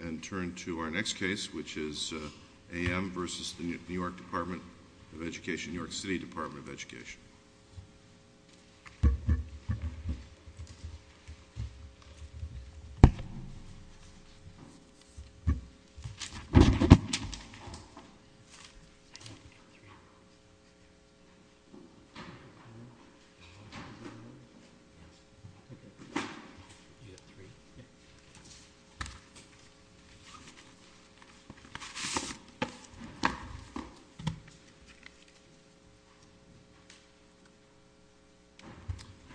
And turn to our next case, which is A.M. versus the New York Department of Education, New York City Department of Education.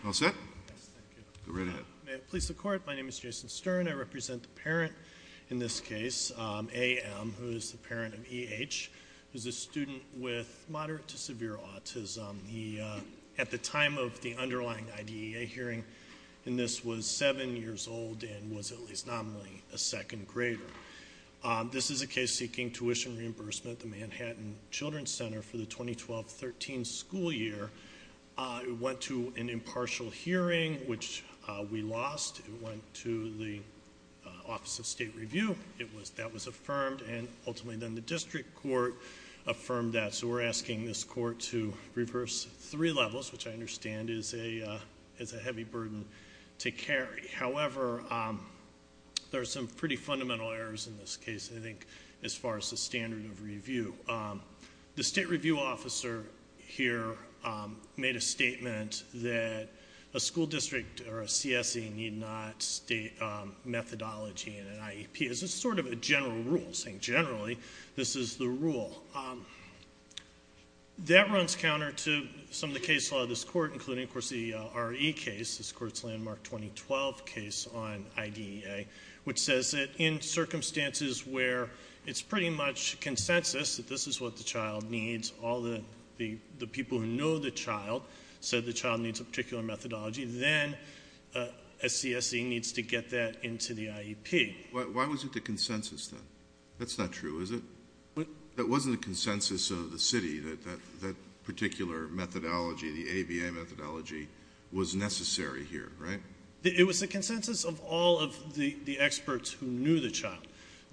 All set? Yes, thank you. Go right ahead. May it please the Court, my name is Jason Stern. I represent the parent in this case, A.M., who is the parent of E.H., who is a student with moderate to severe autism. He, at the time of the underlying IDEA hearing in this, was seven years old and was at least Thank you. Thank you. Thank you. Thank you. Thank you. Thank you. Thank you. Thank you. Thank you. Thank you. Thank you. Today's case is looking at the Dease Alareance case that I've now September 29 of 2011. This is a case seeking tuition reimbursement at the Manhattan Children's Center for the 2012-13 school year. It went to an impartial hearing, which we lost and went to the Office of State Review. That was affirmed and, ultimately, then, this court affirmed that we're asking this court to reverse three levels, which I understand is a heavy burden to carry. However, there are some pretty fundamental errors in this case, I think, as far as the standard of review. The state review officer here made a statement that a school district or a CSE need not state methodology in an IEP. This is sort of a general rule saying, generally, this is the rule. That runs counter to some of the case law of this court, including, of course, the RE case, this court's landmark 2012 case on IDEA, which says that in circumstances where it's pretty much consensus that this is what the child needs, all the people who know the child said the child needs a particular methodology, then a CSE needs to get that into the IEP. Why was it the consensus, then? That's not true, is it? That wasn't the consensus of the city, that that particular methodology, the ABA methodology, was necessary here, right? It was the consensus of all of the experts who knew the child.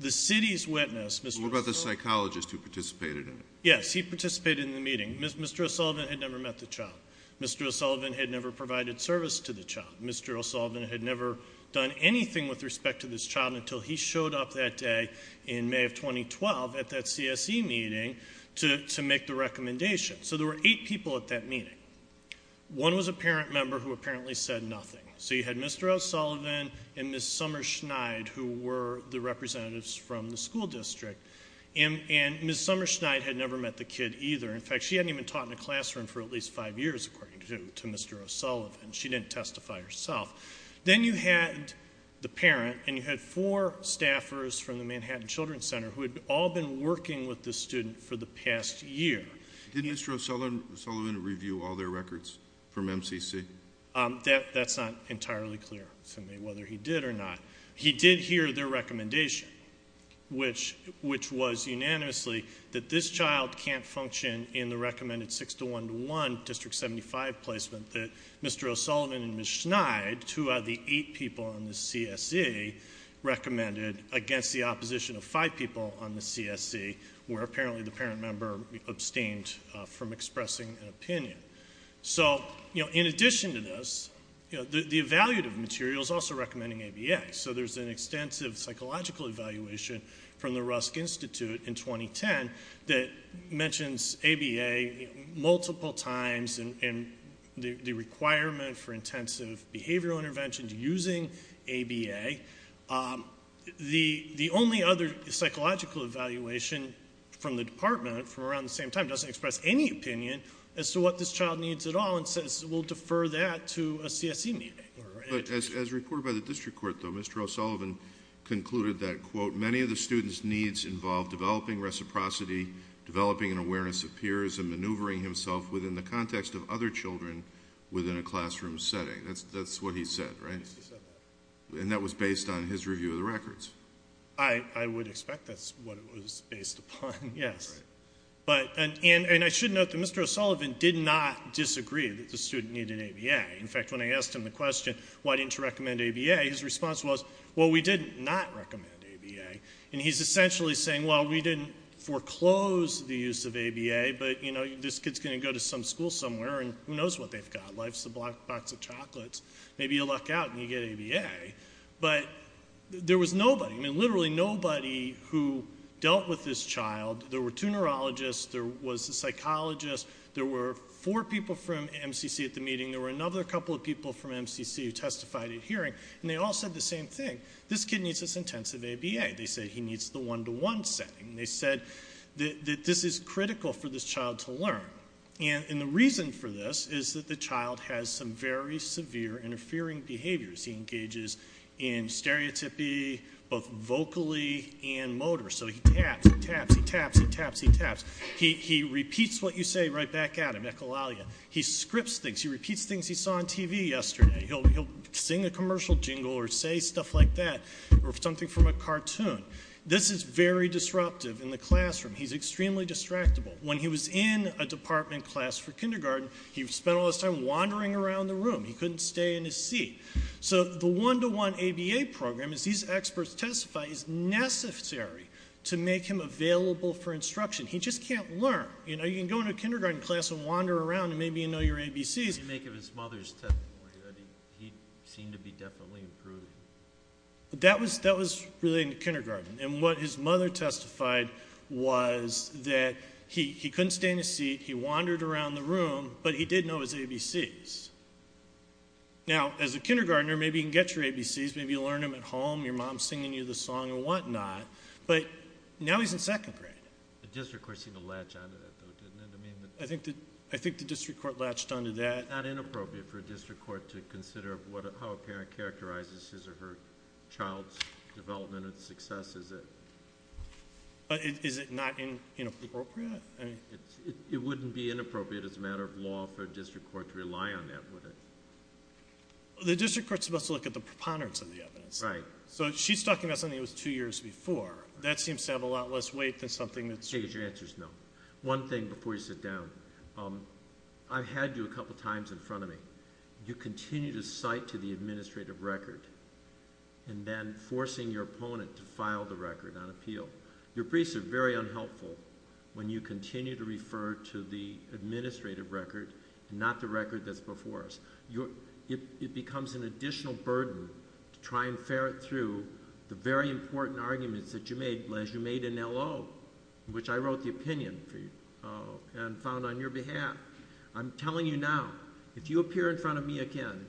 The city's witness, Mr. O'Sullivan... What about the psychologist who participated in it? Yes, he participated in the meeting. Mr. O'Sullivan had never met the child. Mr. O'Sullivan had never provided service to the child. Mr. O'Sullivan had never done anything with respect to this child until he showed up that day in May of 2012 at that CSE meeting to make the recommendation. So there were eight people at that meeting. One was a parent member who apparently said nothing. So you had Mr. O'Sullivan and Ms. Somerschneid, who were the representatives from the school district, and Ms. Somerschneid had never met the kid either. In fact, she hadn't even taught in a classroom for at least five years, according to Mr. O'Sullivan. She didn't testify herself. Then you had the parent, and you had four staffers from the Manhattan Children's Center who had all been working with this student for the past year. Did Mr. O'Sullivan review all their records from MCC? That's not entirely clear to me whether he did or not. He did hear their recommendation, which was unanimously that this child can't function in the recommended six-to-one-to-one District 75 placement that Mr. O'Sullivan and Ms. Somerschneid, who are the eight people on the CSE, recommended against the opposition of five people on the CSE, where apparently the parent member abstained from expressing an opinion. So in addition to this, the evaluative material is also recommending ABA. So there's an extensive psychological evaluation from the Rusk Institute in 2010 that mentions ABA multiple times, and the requirement for intensive behavioral interventions using ABA. The only other psychological evaluation from the department from around the same time doesn't express any opinion as to what this child needs at all, and says we'll defer that to a CSE meeting. But as reported by the District Court, though, Mr. O'Sullivan concluded that, quote, many of the student's needs involve developing reciprocity, developing an awareness of peers, and maneuvering himself within the context of other children within a classroom setting. That's what he said, right? And that was based on his review of the records. I would expect that's what it was based upon, yes. And I should note that Mr. O'Sullivan did not disagree that the student needed ABA. In fact, when I asked him the question, why didn't you recommend ABA, his response was, well, we did not recommend ABA. And he's essentially saying, well, we didn't foreclose the use of ABA, but, you know, this kid's going to go to some school somewhere, and who knows what they've got. Life's a black box of chocolates. Maybe you luck out and you get ABA. But there was nobody, I mean, literally nobody who dealt with this child. There were two neurologists. There was a psychologist. There were four people from MCC at the meeting. There were another couple of people from MCC who testified at hearing. And they all said the same thing. This kid needs this intensive ABA. They said he needs the one-to-one setting. They said that this is critical for this child to learn. And the reason for this is that the child has some very severe interfering behaviors. He engages in stereotypy both vocally and motor. So he taps, he taps, he taps, he taps, he taps. He repeats what you say right back at him, echolalia. He scripts things. He repeats things he saw on TV yesterday. He'll jingle or say stuff like that or something from a cartoon. This is very disruptive in the classroom. He's extremely distractible. When he was in a department class for kindergarten, he spent all his time wandering around the room. He couldn't stay in his seat. So the one-to-one ABA program, as these experts testify, is necessary to make him available for instruction. He just can't learn. You know, you can go into a kindergarten class and wander around and maybe you know your ABCs. What did you make of his mother's testimony? He seemed to be definitely improving. That was really in kindergarten. And what his mother testified was that he couldn't stay in his seat. He wandered around the room, but he did know his ABCs. Now, as a kindergartner, maybe you can get your ABCs. Maybe you learn them at home. Your mom's singing you the song and whatnot. But now he's in second grade. The district court seemed to latch onto that, though, didn't it? I think the district court latched onto that. Is it not inappropriate for a district court to consider how a parent characterizes his or her child's development and success? Is it not inappropriate? It wouldn't be inappropriate as a matter of law for a district court to rely on that, would it? The district court's supposed to look at the preponderance of the evidence. Right. So she's talking about something that was two years before. That seems to have a lot less weight than something that's... Take your answers now. One thing before you sit down. I have two briefs in front of me. You continue to cite to the administrative record and then forcing your opponent to file the record on appeal. Your briefs are very unhelpful when you continue to refer to the administrative record and not the record that's before us. It becomes an additional burden to try and ferret through the very important arguments that you made as you made an LO, which I wrote the opinion for you and found on your behalf. I'm telling you now, if you appear in front of me again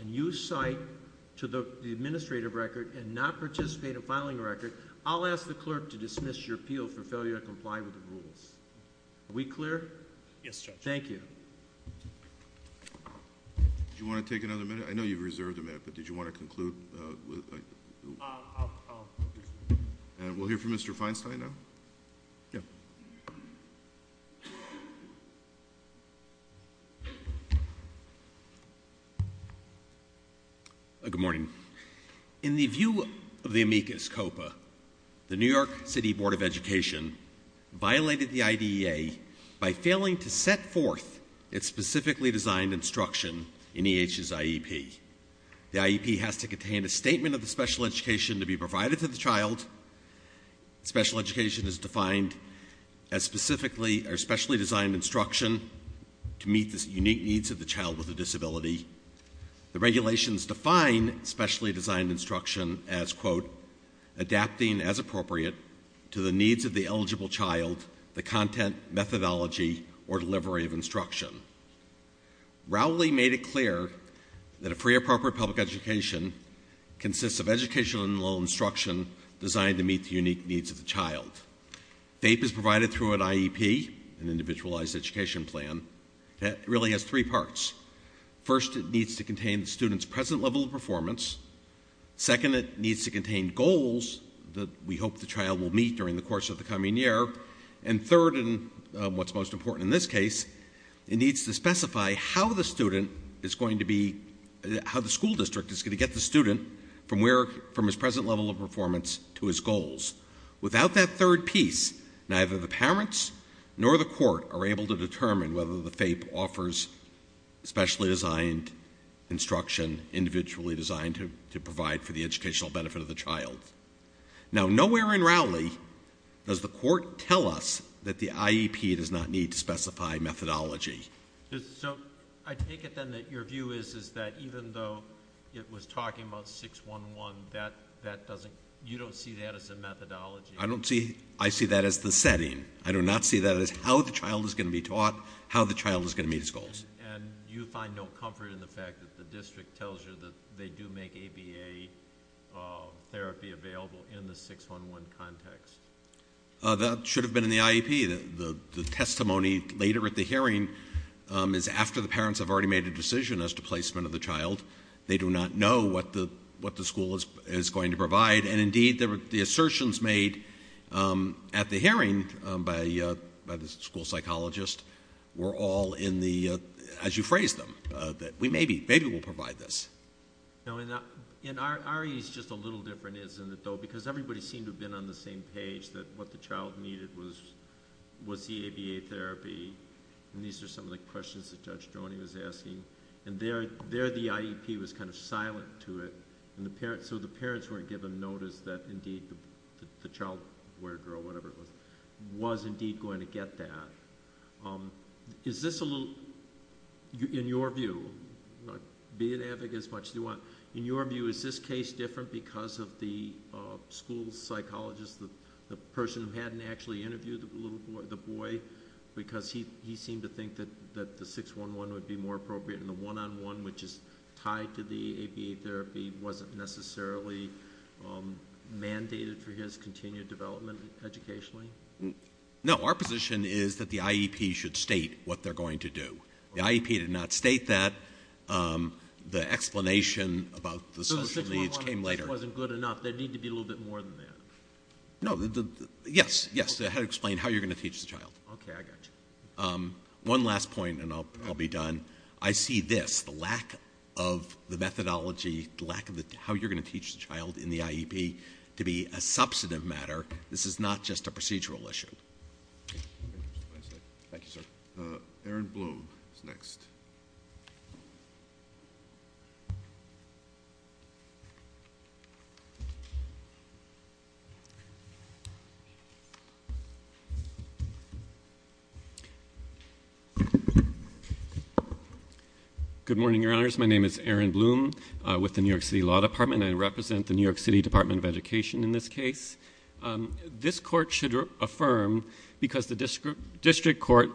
and you cite to the administrative record and not participate in filing a record, I'll ask the clerk to dismiss your appeal for failure to comply with the rules. Are we clear? Yes, Judge. Thank you. Did you want to take another minute? I know you've reserved a minute, but did you want to conclude? I'll... And we'll hear from Mr. Feinstein now. Yeah. Go ahead. Good morning. In the view of the amicus copa, the New York City Board of Education violated the IDEA by failing to set forth its specifically designed instruction in E.H.'s IEP. The IEP has to contain a statement of the special education to be provided to the child. Special education is defined as specifically or specially designed instruction to meet the unique needs of the child with a disability. The regulations define specially designed instruction as, quote, adapting as appropriate to the needs of the eligible child, the content, methodology, or delivery of instruction. Rowley made it clear that a free appropriate public education consists of educational instruction designed to meet the unique needs of the child. FAPE is provided through an IEP, an individualized education plan, that really has three parts. First, it needs to contain the student's present level of performance. Second, it needs to contain goals that we hope the child will meet during the course of the coming year. And third, and what's most important in this case, it needs to specify how the student is going to be... how the school district is going to get the student from his present level of performance to his goals. Without that third piece, nor the court are able to determine whether the FAPE offers specially designed instruction, individually designed to provide for the educational benefit of the child. Now, nowhere in Rowley does the court tell us that the IEP does not need to specify methodology. So I take it, then, that your view is that even though it was talking about 611, that doesn't... you don't see that as a methodology? I don't see... I see that as the setting. I do not see that as how the child is going to be taught, how the child is going to meet his goals. And you find no comfort in the fact that the district tells you that they do make ABA therapy available in the 611 context? That should have been in the IEP. The testimony later at the hearing is after the parents as to placement of the child. They do not know what the school is going to provide. At the hearing, by the school psychologist, we're all in the... as you phrased them, that maybe we'll provide this. No, in our ease, it's just a little different, isn't it, though? Because everybody seemed to have been on the same page that what the child needed was the ABA therapy. And these are some of the questions that Judge Joni was asking. And there, the IEP was kind of silent to it. So the parents weren't given notice that, indeed, the school psychologist, whatever it was, was, indeed, going to get that. Is this a little... In your view, be an advocate as much as you want, in your view, is this case different because of the school psychologist, the person who hadn't actually interviewed the boy, because he seemed to think that the 611 would be more appropriate and the one-on-one, which is tied to the ABA therapy, would be more appropriate? No, our position is that the IEP should state what they're going to do. The IEP did not state that. The explanation about the social needs came later. So the 611 just wasn't good enough. There'd need to be a little bit more than that. No, yes, yes. Explain how you're going to teach the child. Okay, I got you. One last point and I'll be done. I see this, the lack of the methodology, is a procedural issue. Thank you, sir. Aaron Bloom is next. Good morning, Your Honors. My name is Aaron Bloom with the New York City Law Department. I represent the New York City Department of Education in this case. This court should affirm because the district court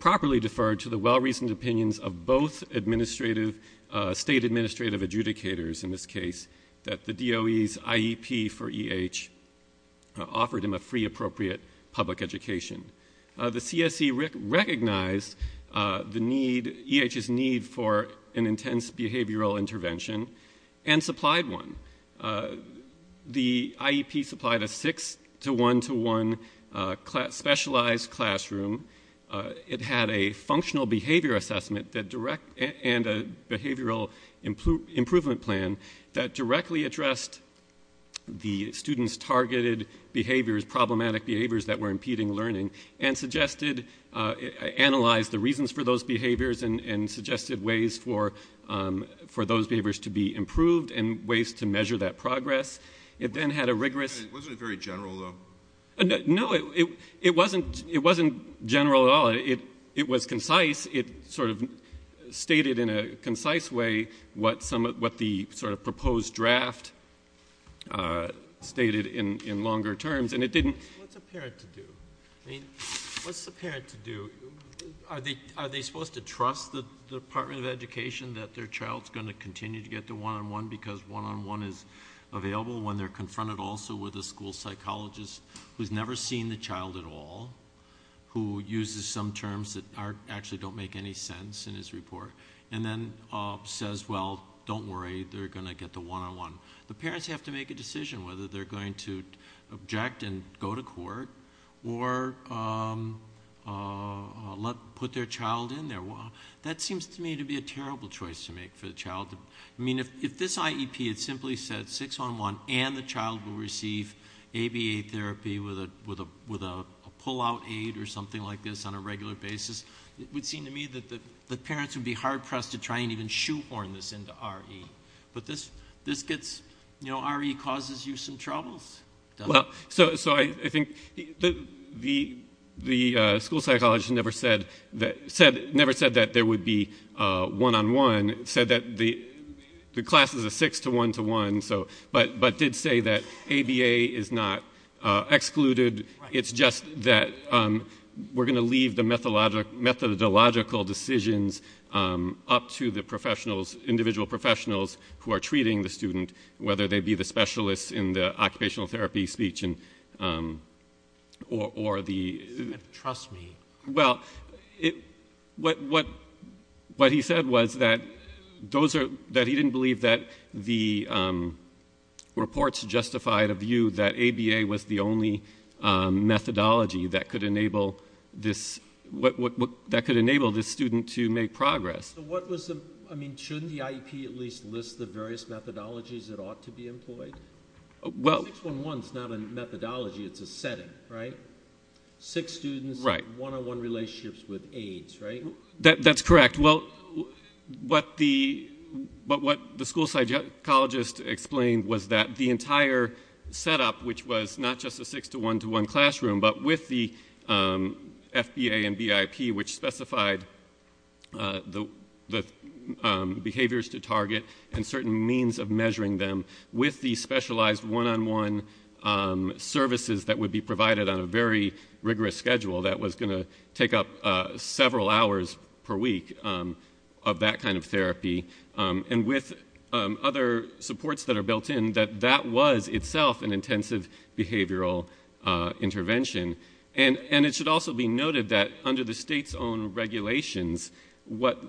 properly deferred to the well-reasoned opinions of both state administrative adjudicators in this case that the DOE's IEP for E.H. offered him a free, appropriate public education. The CSE recognized E.H.'s need for an intense behavioral intervention and supplied one. The IEP supplied a six-to-one-to-one specialized classroom. It had a functional behavior assessment and a behavioral improvement plan that directly addressed the students' targeted behaviors, problematic behaviors that were impeding learning and analyzed the reasons for those behaviors and suggested ways for those behaviors to be improved and ways to measure that progress. It then had a rigorous... It wasn't very general, though. No, it wasn't general at all. It was concise. It sort of stated in a concise way what the sort of proposed draft stated in longer terms. And it didn't... What's a parent to do? I mean, what's a parent to do? Are they supposed to trust the Department of Education that their child's gonna continue to get the one-on-one because one-on-one is available when they're confronted also with a school psychologist who's never seen the child at all, who uses some terms that actually don't make any sense in his report and then says, well, don't worry. They're gonna get the one-on-one. The parents have to make a decision whether they're going to object and go to court or put their child in there. That's a choice to make for the child. I mean, if this IEP had simply said six-on-one and the child will receive ABA therapy with a pull-out aid or something like this on a regular basis, it would seem to me that the parents would be hard-pressed to try and even shoehorn this into RE. But this gets... RE causes you some troubles, doesn't it? Well, so I think the school psychologist never said that and said that the class is a six-to-one-to-one, but did say that ABA is not excluded. It's just that we're gonna leave the methodological decisions up to the professionals, individual professionals who are treating the student, whether they be the specialists in the occupational therapy speech or the... Trust me. Well, what he said was that he didn't believe that the reports justified a view that ABA was the only methodology that could enable this... that could enable this student to make progress. So what was the... I mean, shouldn't the IEP at least list the various methodologies that ought to be employed? Well... Six-one-one's not a methodology. It's a setting, right? Six students, one-on-one relationships with aides, right? That's correct. Well, what the... what the school psychologist explained was that the entire setup, which was not just a six-to-one-to-one classroom, but with the FBA and BIP, which specified the behaviors to target and certain means of measuring them with the specialized one-on-one services that would be provided several hours per week of that kind of therapy. And with other supports that are built in, that that was itself an intensive behavioral intervention. And it should also be noted that under the state's own regulations, what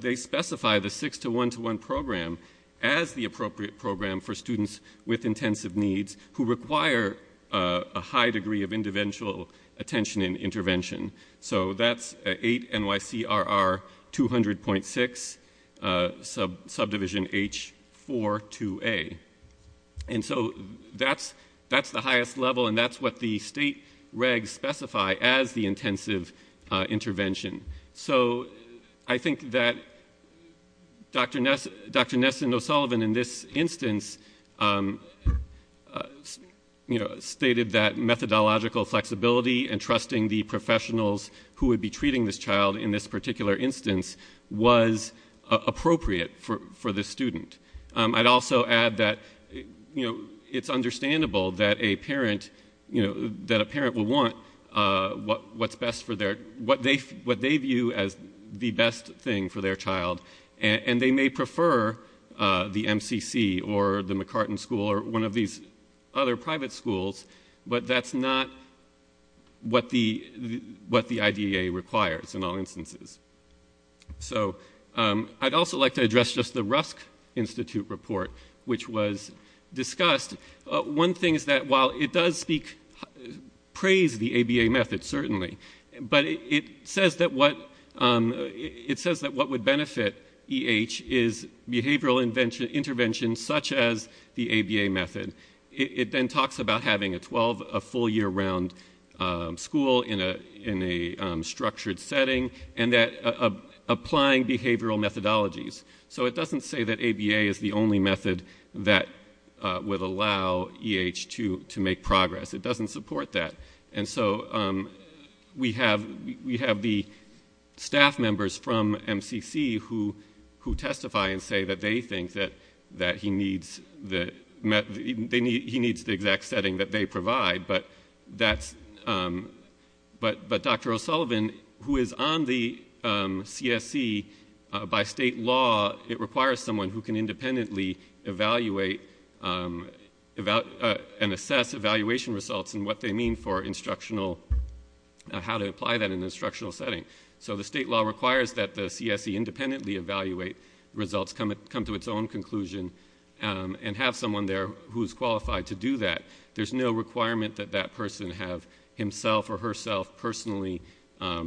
they specify, the six-to-one-to-one program as the appropriate program for students with intensive needs who require a high degree of individual attention and intervention. So that's 8-NYC-RR-200.6, subdivision H-4-2A. And so that's... that's the highest level, and that's what the state regs specify as the intensive intervention. So I think that Dr. Ness... Dr. Nessendo-Sullivan, in this instance, you know, stated that methodological flexibility and trusting the professionals who would be treating this child in this particular instance was appropriate for this student. I'd also add that, you know, it's understandable that a parent, you know, that a parent will want what's best for their... what they view as the best thing for their child. And they may prefer the MCC or the McCartan School or one of these other private schools, but that's not what the IDEA requires in all instances. So I'd also like to address just the Rusk Institute report, which was discussed. One thing is that while it does speak... praise the ABA method, certainly, but it says that what... it says that what would benefit EH is behavioral intervention such as the ABA method. It then talks about having a full year-round school in a structured setting and applying behavioral methodologies. So it doesn't say that ABA is the only method that would allow EH to make progress. It doesn't support that. And so we have the staff members from MCC who testify and say that they think that he needs the... he needs the exact setting that we provide. But that's... But Dr. O'Sullivan, who is on the CSE, by state law, it requires someone who can independently evaluate and assess evaluation results and what they mean for instructional... how to apply that in an instructional setting. So the state law requires that the CSE independently evaluate results, come to its own conclusion and have someone there who meets the requirement that that person have himself or herself personally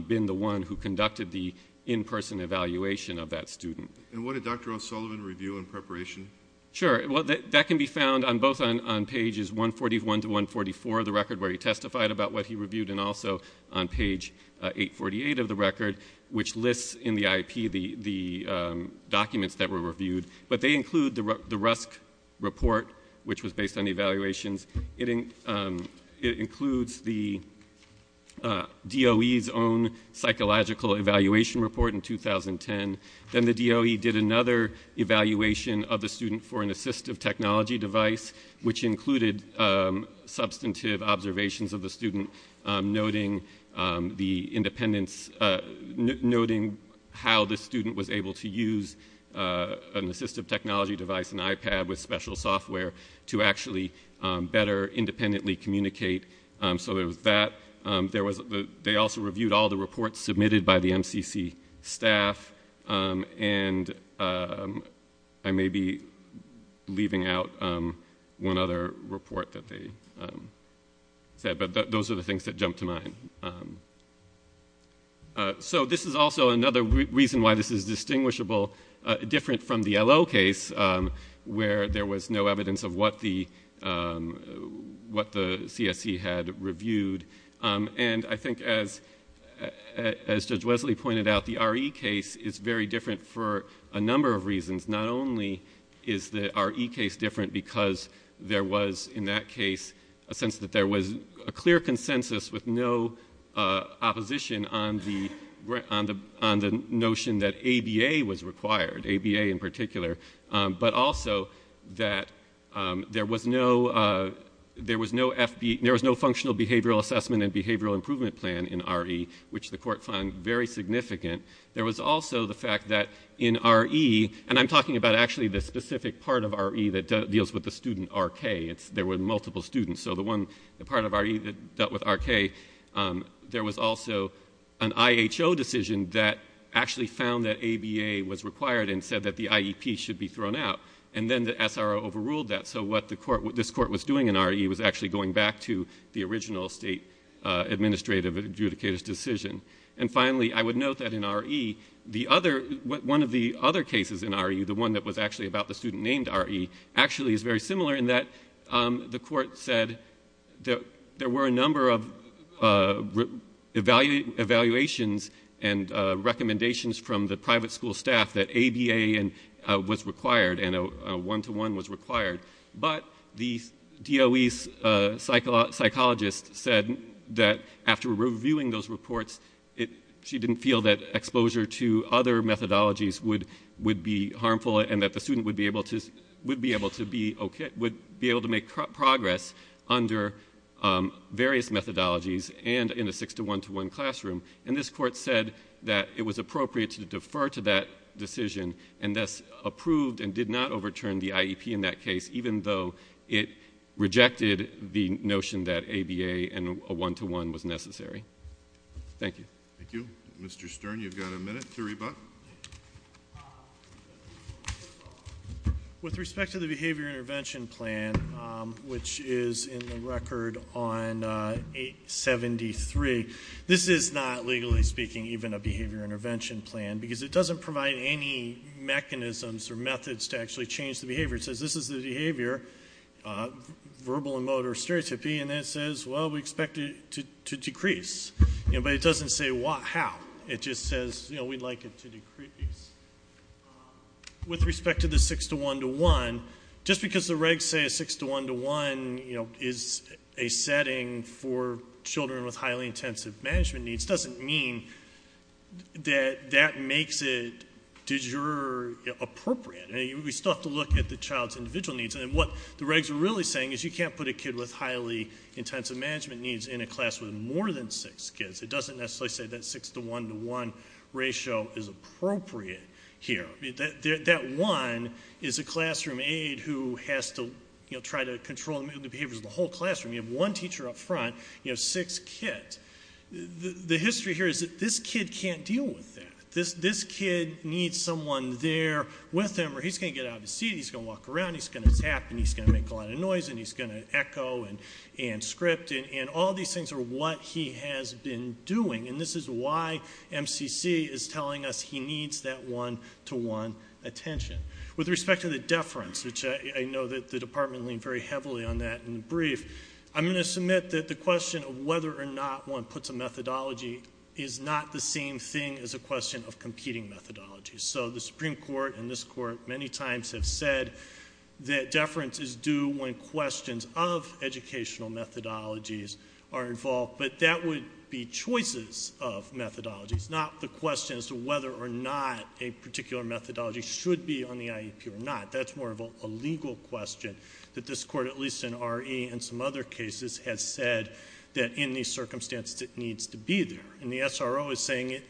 been the one who conducted the in-person evaluation of that student. And what did Dr. O'Sullivan review in preparation? Sure. Well, that can be found both on pages 141 to 144 of the record where he testified about what he reviewed and also on page 848 of the record which lists in the IP the documents that were reviewed. But they include the Rusk report which was based on evaluations. It includes the DOE's own psychological evaluation report in 2010. Then the DOE did another evaluation of the student for an assistive technology device which included substantive observations of the student noting the independence... noting how the student was able to use an assistive technology device, an iPad with special software to actually better independently communicate. So there was that. They also reviewed all the reports submitted by the MCC staff. And I may be leaving out one other report that they said. But those are the things that jumped to mind. So this is also another reason why this is distinguishable. It's different from the LO case where there was no evidence of what the CSC had reviewed. And I think as Judge Wesley pointed out, the RE case is very different for a number of reasons. Not only is the RE case different because there was in that case a sense that there was a clear consensus with no opposition on the notion that ABA was required, ABA in particular, but also that there was no functional behavioral assessment and behavioral improvement plan in RE which the court found very significant. There was also the fact that in RE, and I'm talking about actually the specific part of RE that deals with the student RK. There were multiple students. So the part of RE that dealt with RK, there was also an IHO decision that actually found that ABA was required and said that the IEP should be thrown out. And then the SRO overruled that. So what this court was doing in RE was actually going back to the original state administrative adjudicator's decision. And finally, I would note that in RE, one of the other cases in RE, the one that was actually about the student named RE, actually is very similar in that the court said that there were a number of evaluations and recommendations from the private school staff that ABA was required and a one-to-one was required. But the DOE psychologist said that after reviewing those reports, she didn't feel that exposure to other methodologies would be harmful and that the student would be able to make progress under various methodologies and in a six-to-one-to-one classroom. And this court said that it was appropriate to defer to that decision and thus approved and did not overturn the IEP in that case even though it rejected the notion that ABA and a one-to-one was necessary. Thank you. Thank you. Mr. Stern, you've got a minute to rebut. With respect to the Behavior Intervention Plan, which is in the record on 873, this is not, legally speaking, even a behavior intervention plan because it doesn't provide any mechanisms or methods to actually change the behavior. It says this is the behavior, verbal and motor stereotypy, and then it says, well, we expect it to decrease. But it doesn't say how. It just says we'd like it to decrease. With respect to the six-to-one-to-one, just because the regs say that six-to-one-to-one is a setting for children with highly intensive management needs doesn't mean that that makes it de jure appropriate. We still have to look at the child's individual needs. And what the regs are really saying is you can't put a kid with highly intensive management needs in a class with more than six kids. It doesn't necessarily say that six-to-one-to-one ratio is appropriate here. That one is a classroom aide who has to try to control the behaviors of the whole classroom. You have one teacher up front, you have six kids. The history here is that this kid can't deal with that. This kid needs someone there with him or he's going to get out of his seat, he's going to walk around, he's going to tap, and he's going to make a lot of noise, and he's going to echo and script. And all these things are what he has been doing. And this is why MCC is telling us he needs that one-to-one attention. With respect to the deference, and I know that the department leaned very heavily on that in the brief, I'm going to submit that the question of whether or not one puts a methodology is not the same thing as a question of competing methodologies. So the Supreme Court and this court many times have said that deference is due when questions of educational methodologies are involved, but that would be choices of methodologies, not the question as to whether or not a particular methodology should be on the IEP or not. That's more of a legal question that this court, at least in RE and some other cases, has said that in these circumstances it needs to be there. And the SRO is saying it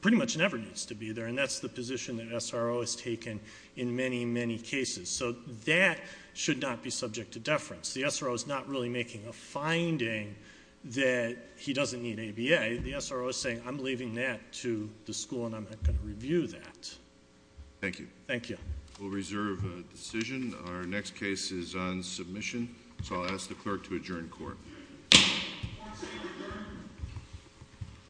pretty much never needs to be there, and that's the position that SRO has taken in many, many cases. So that should not be subject to deference. The SRO is not really making a finding that he doesn't need ABA. The SRO is saying I'm leaving that to the school and I'm not going to review that. Thank you. Thank you. Thank you. Thank you. Thank you very much. Thank you.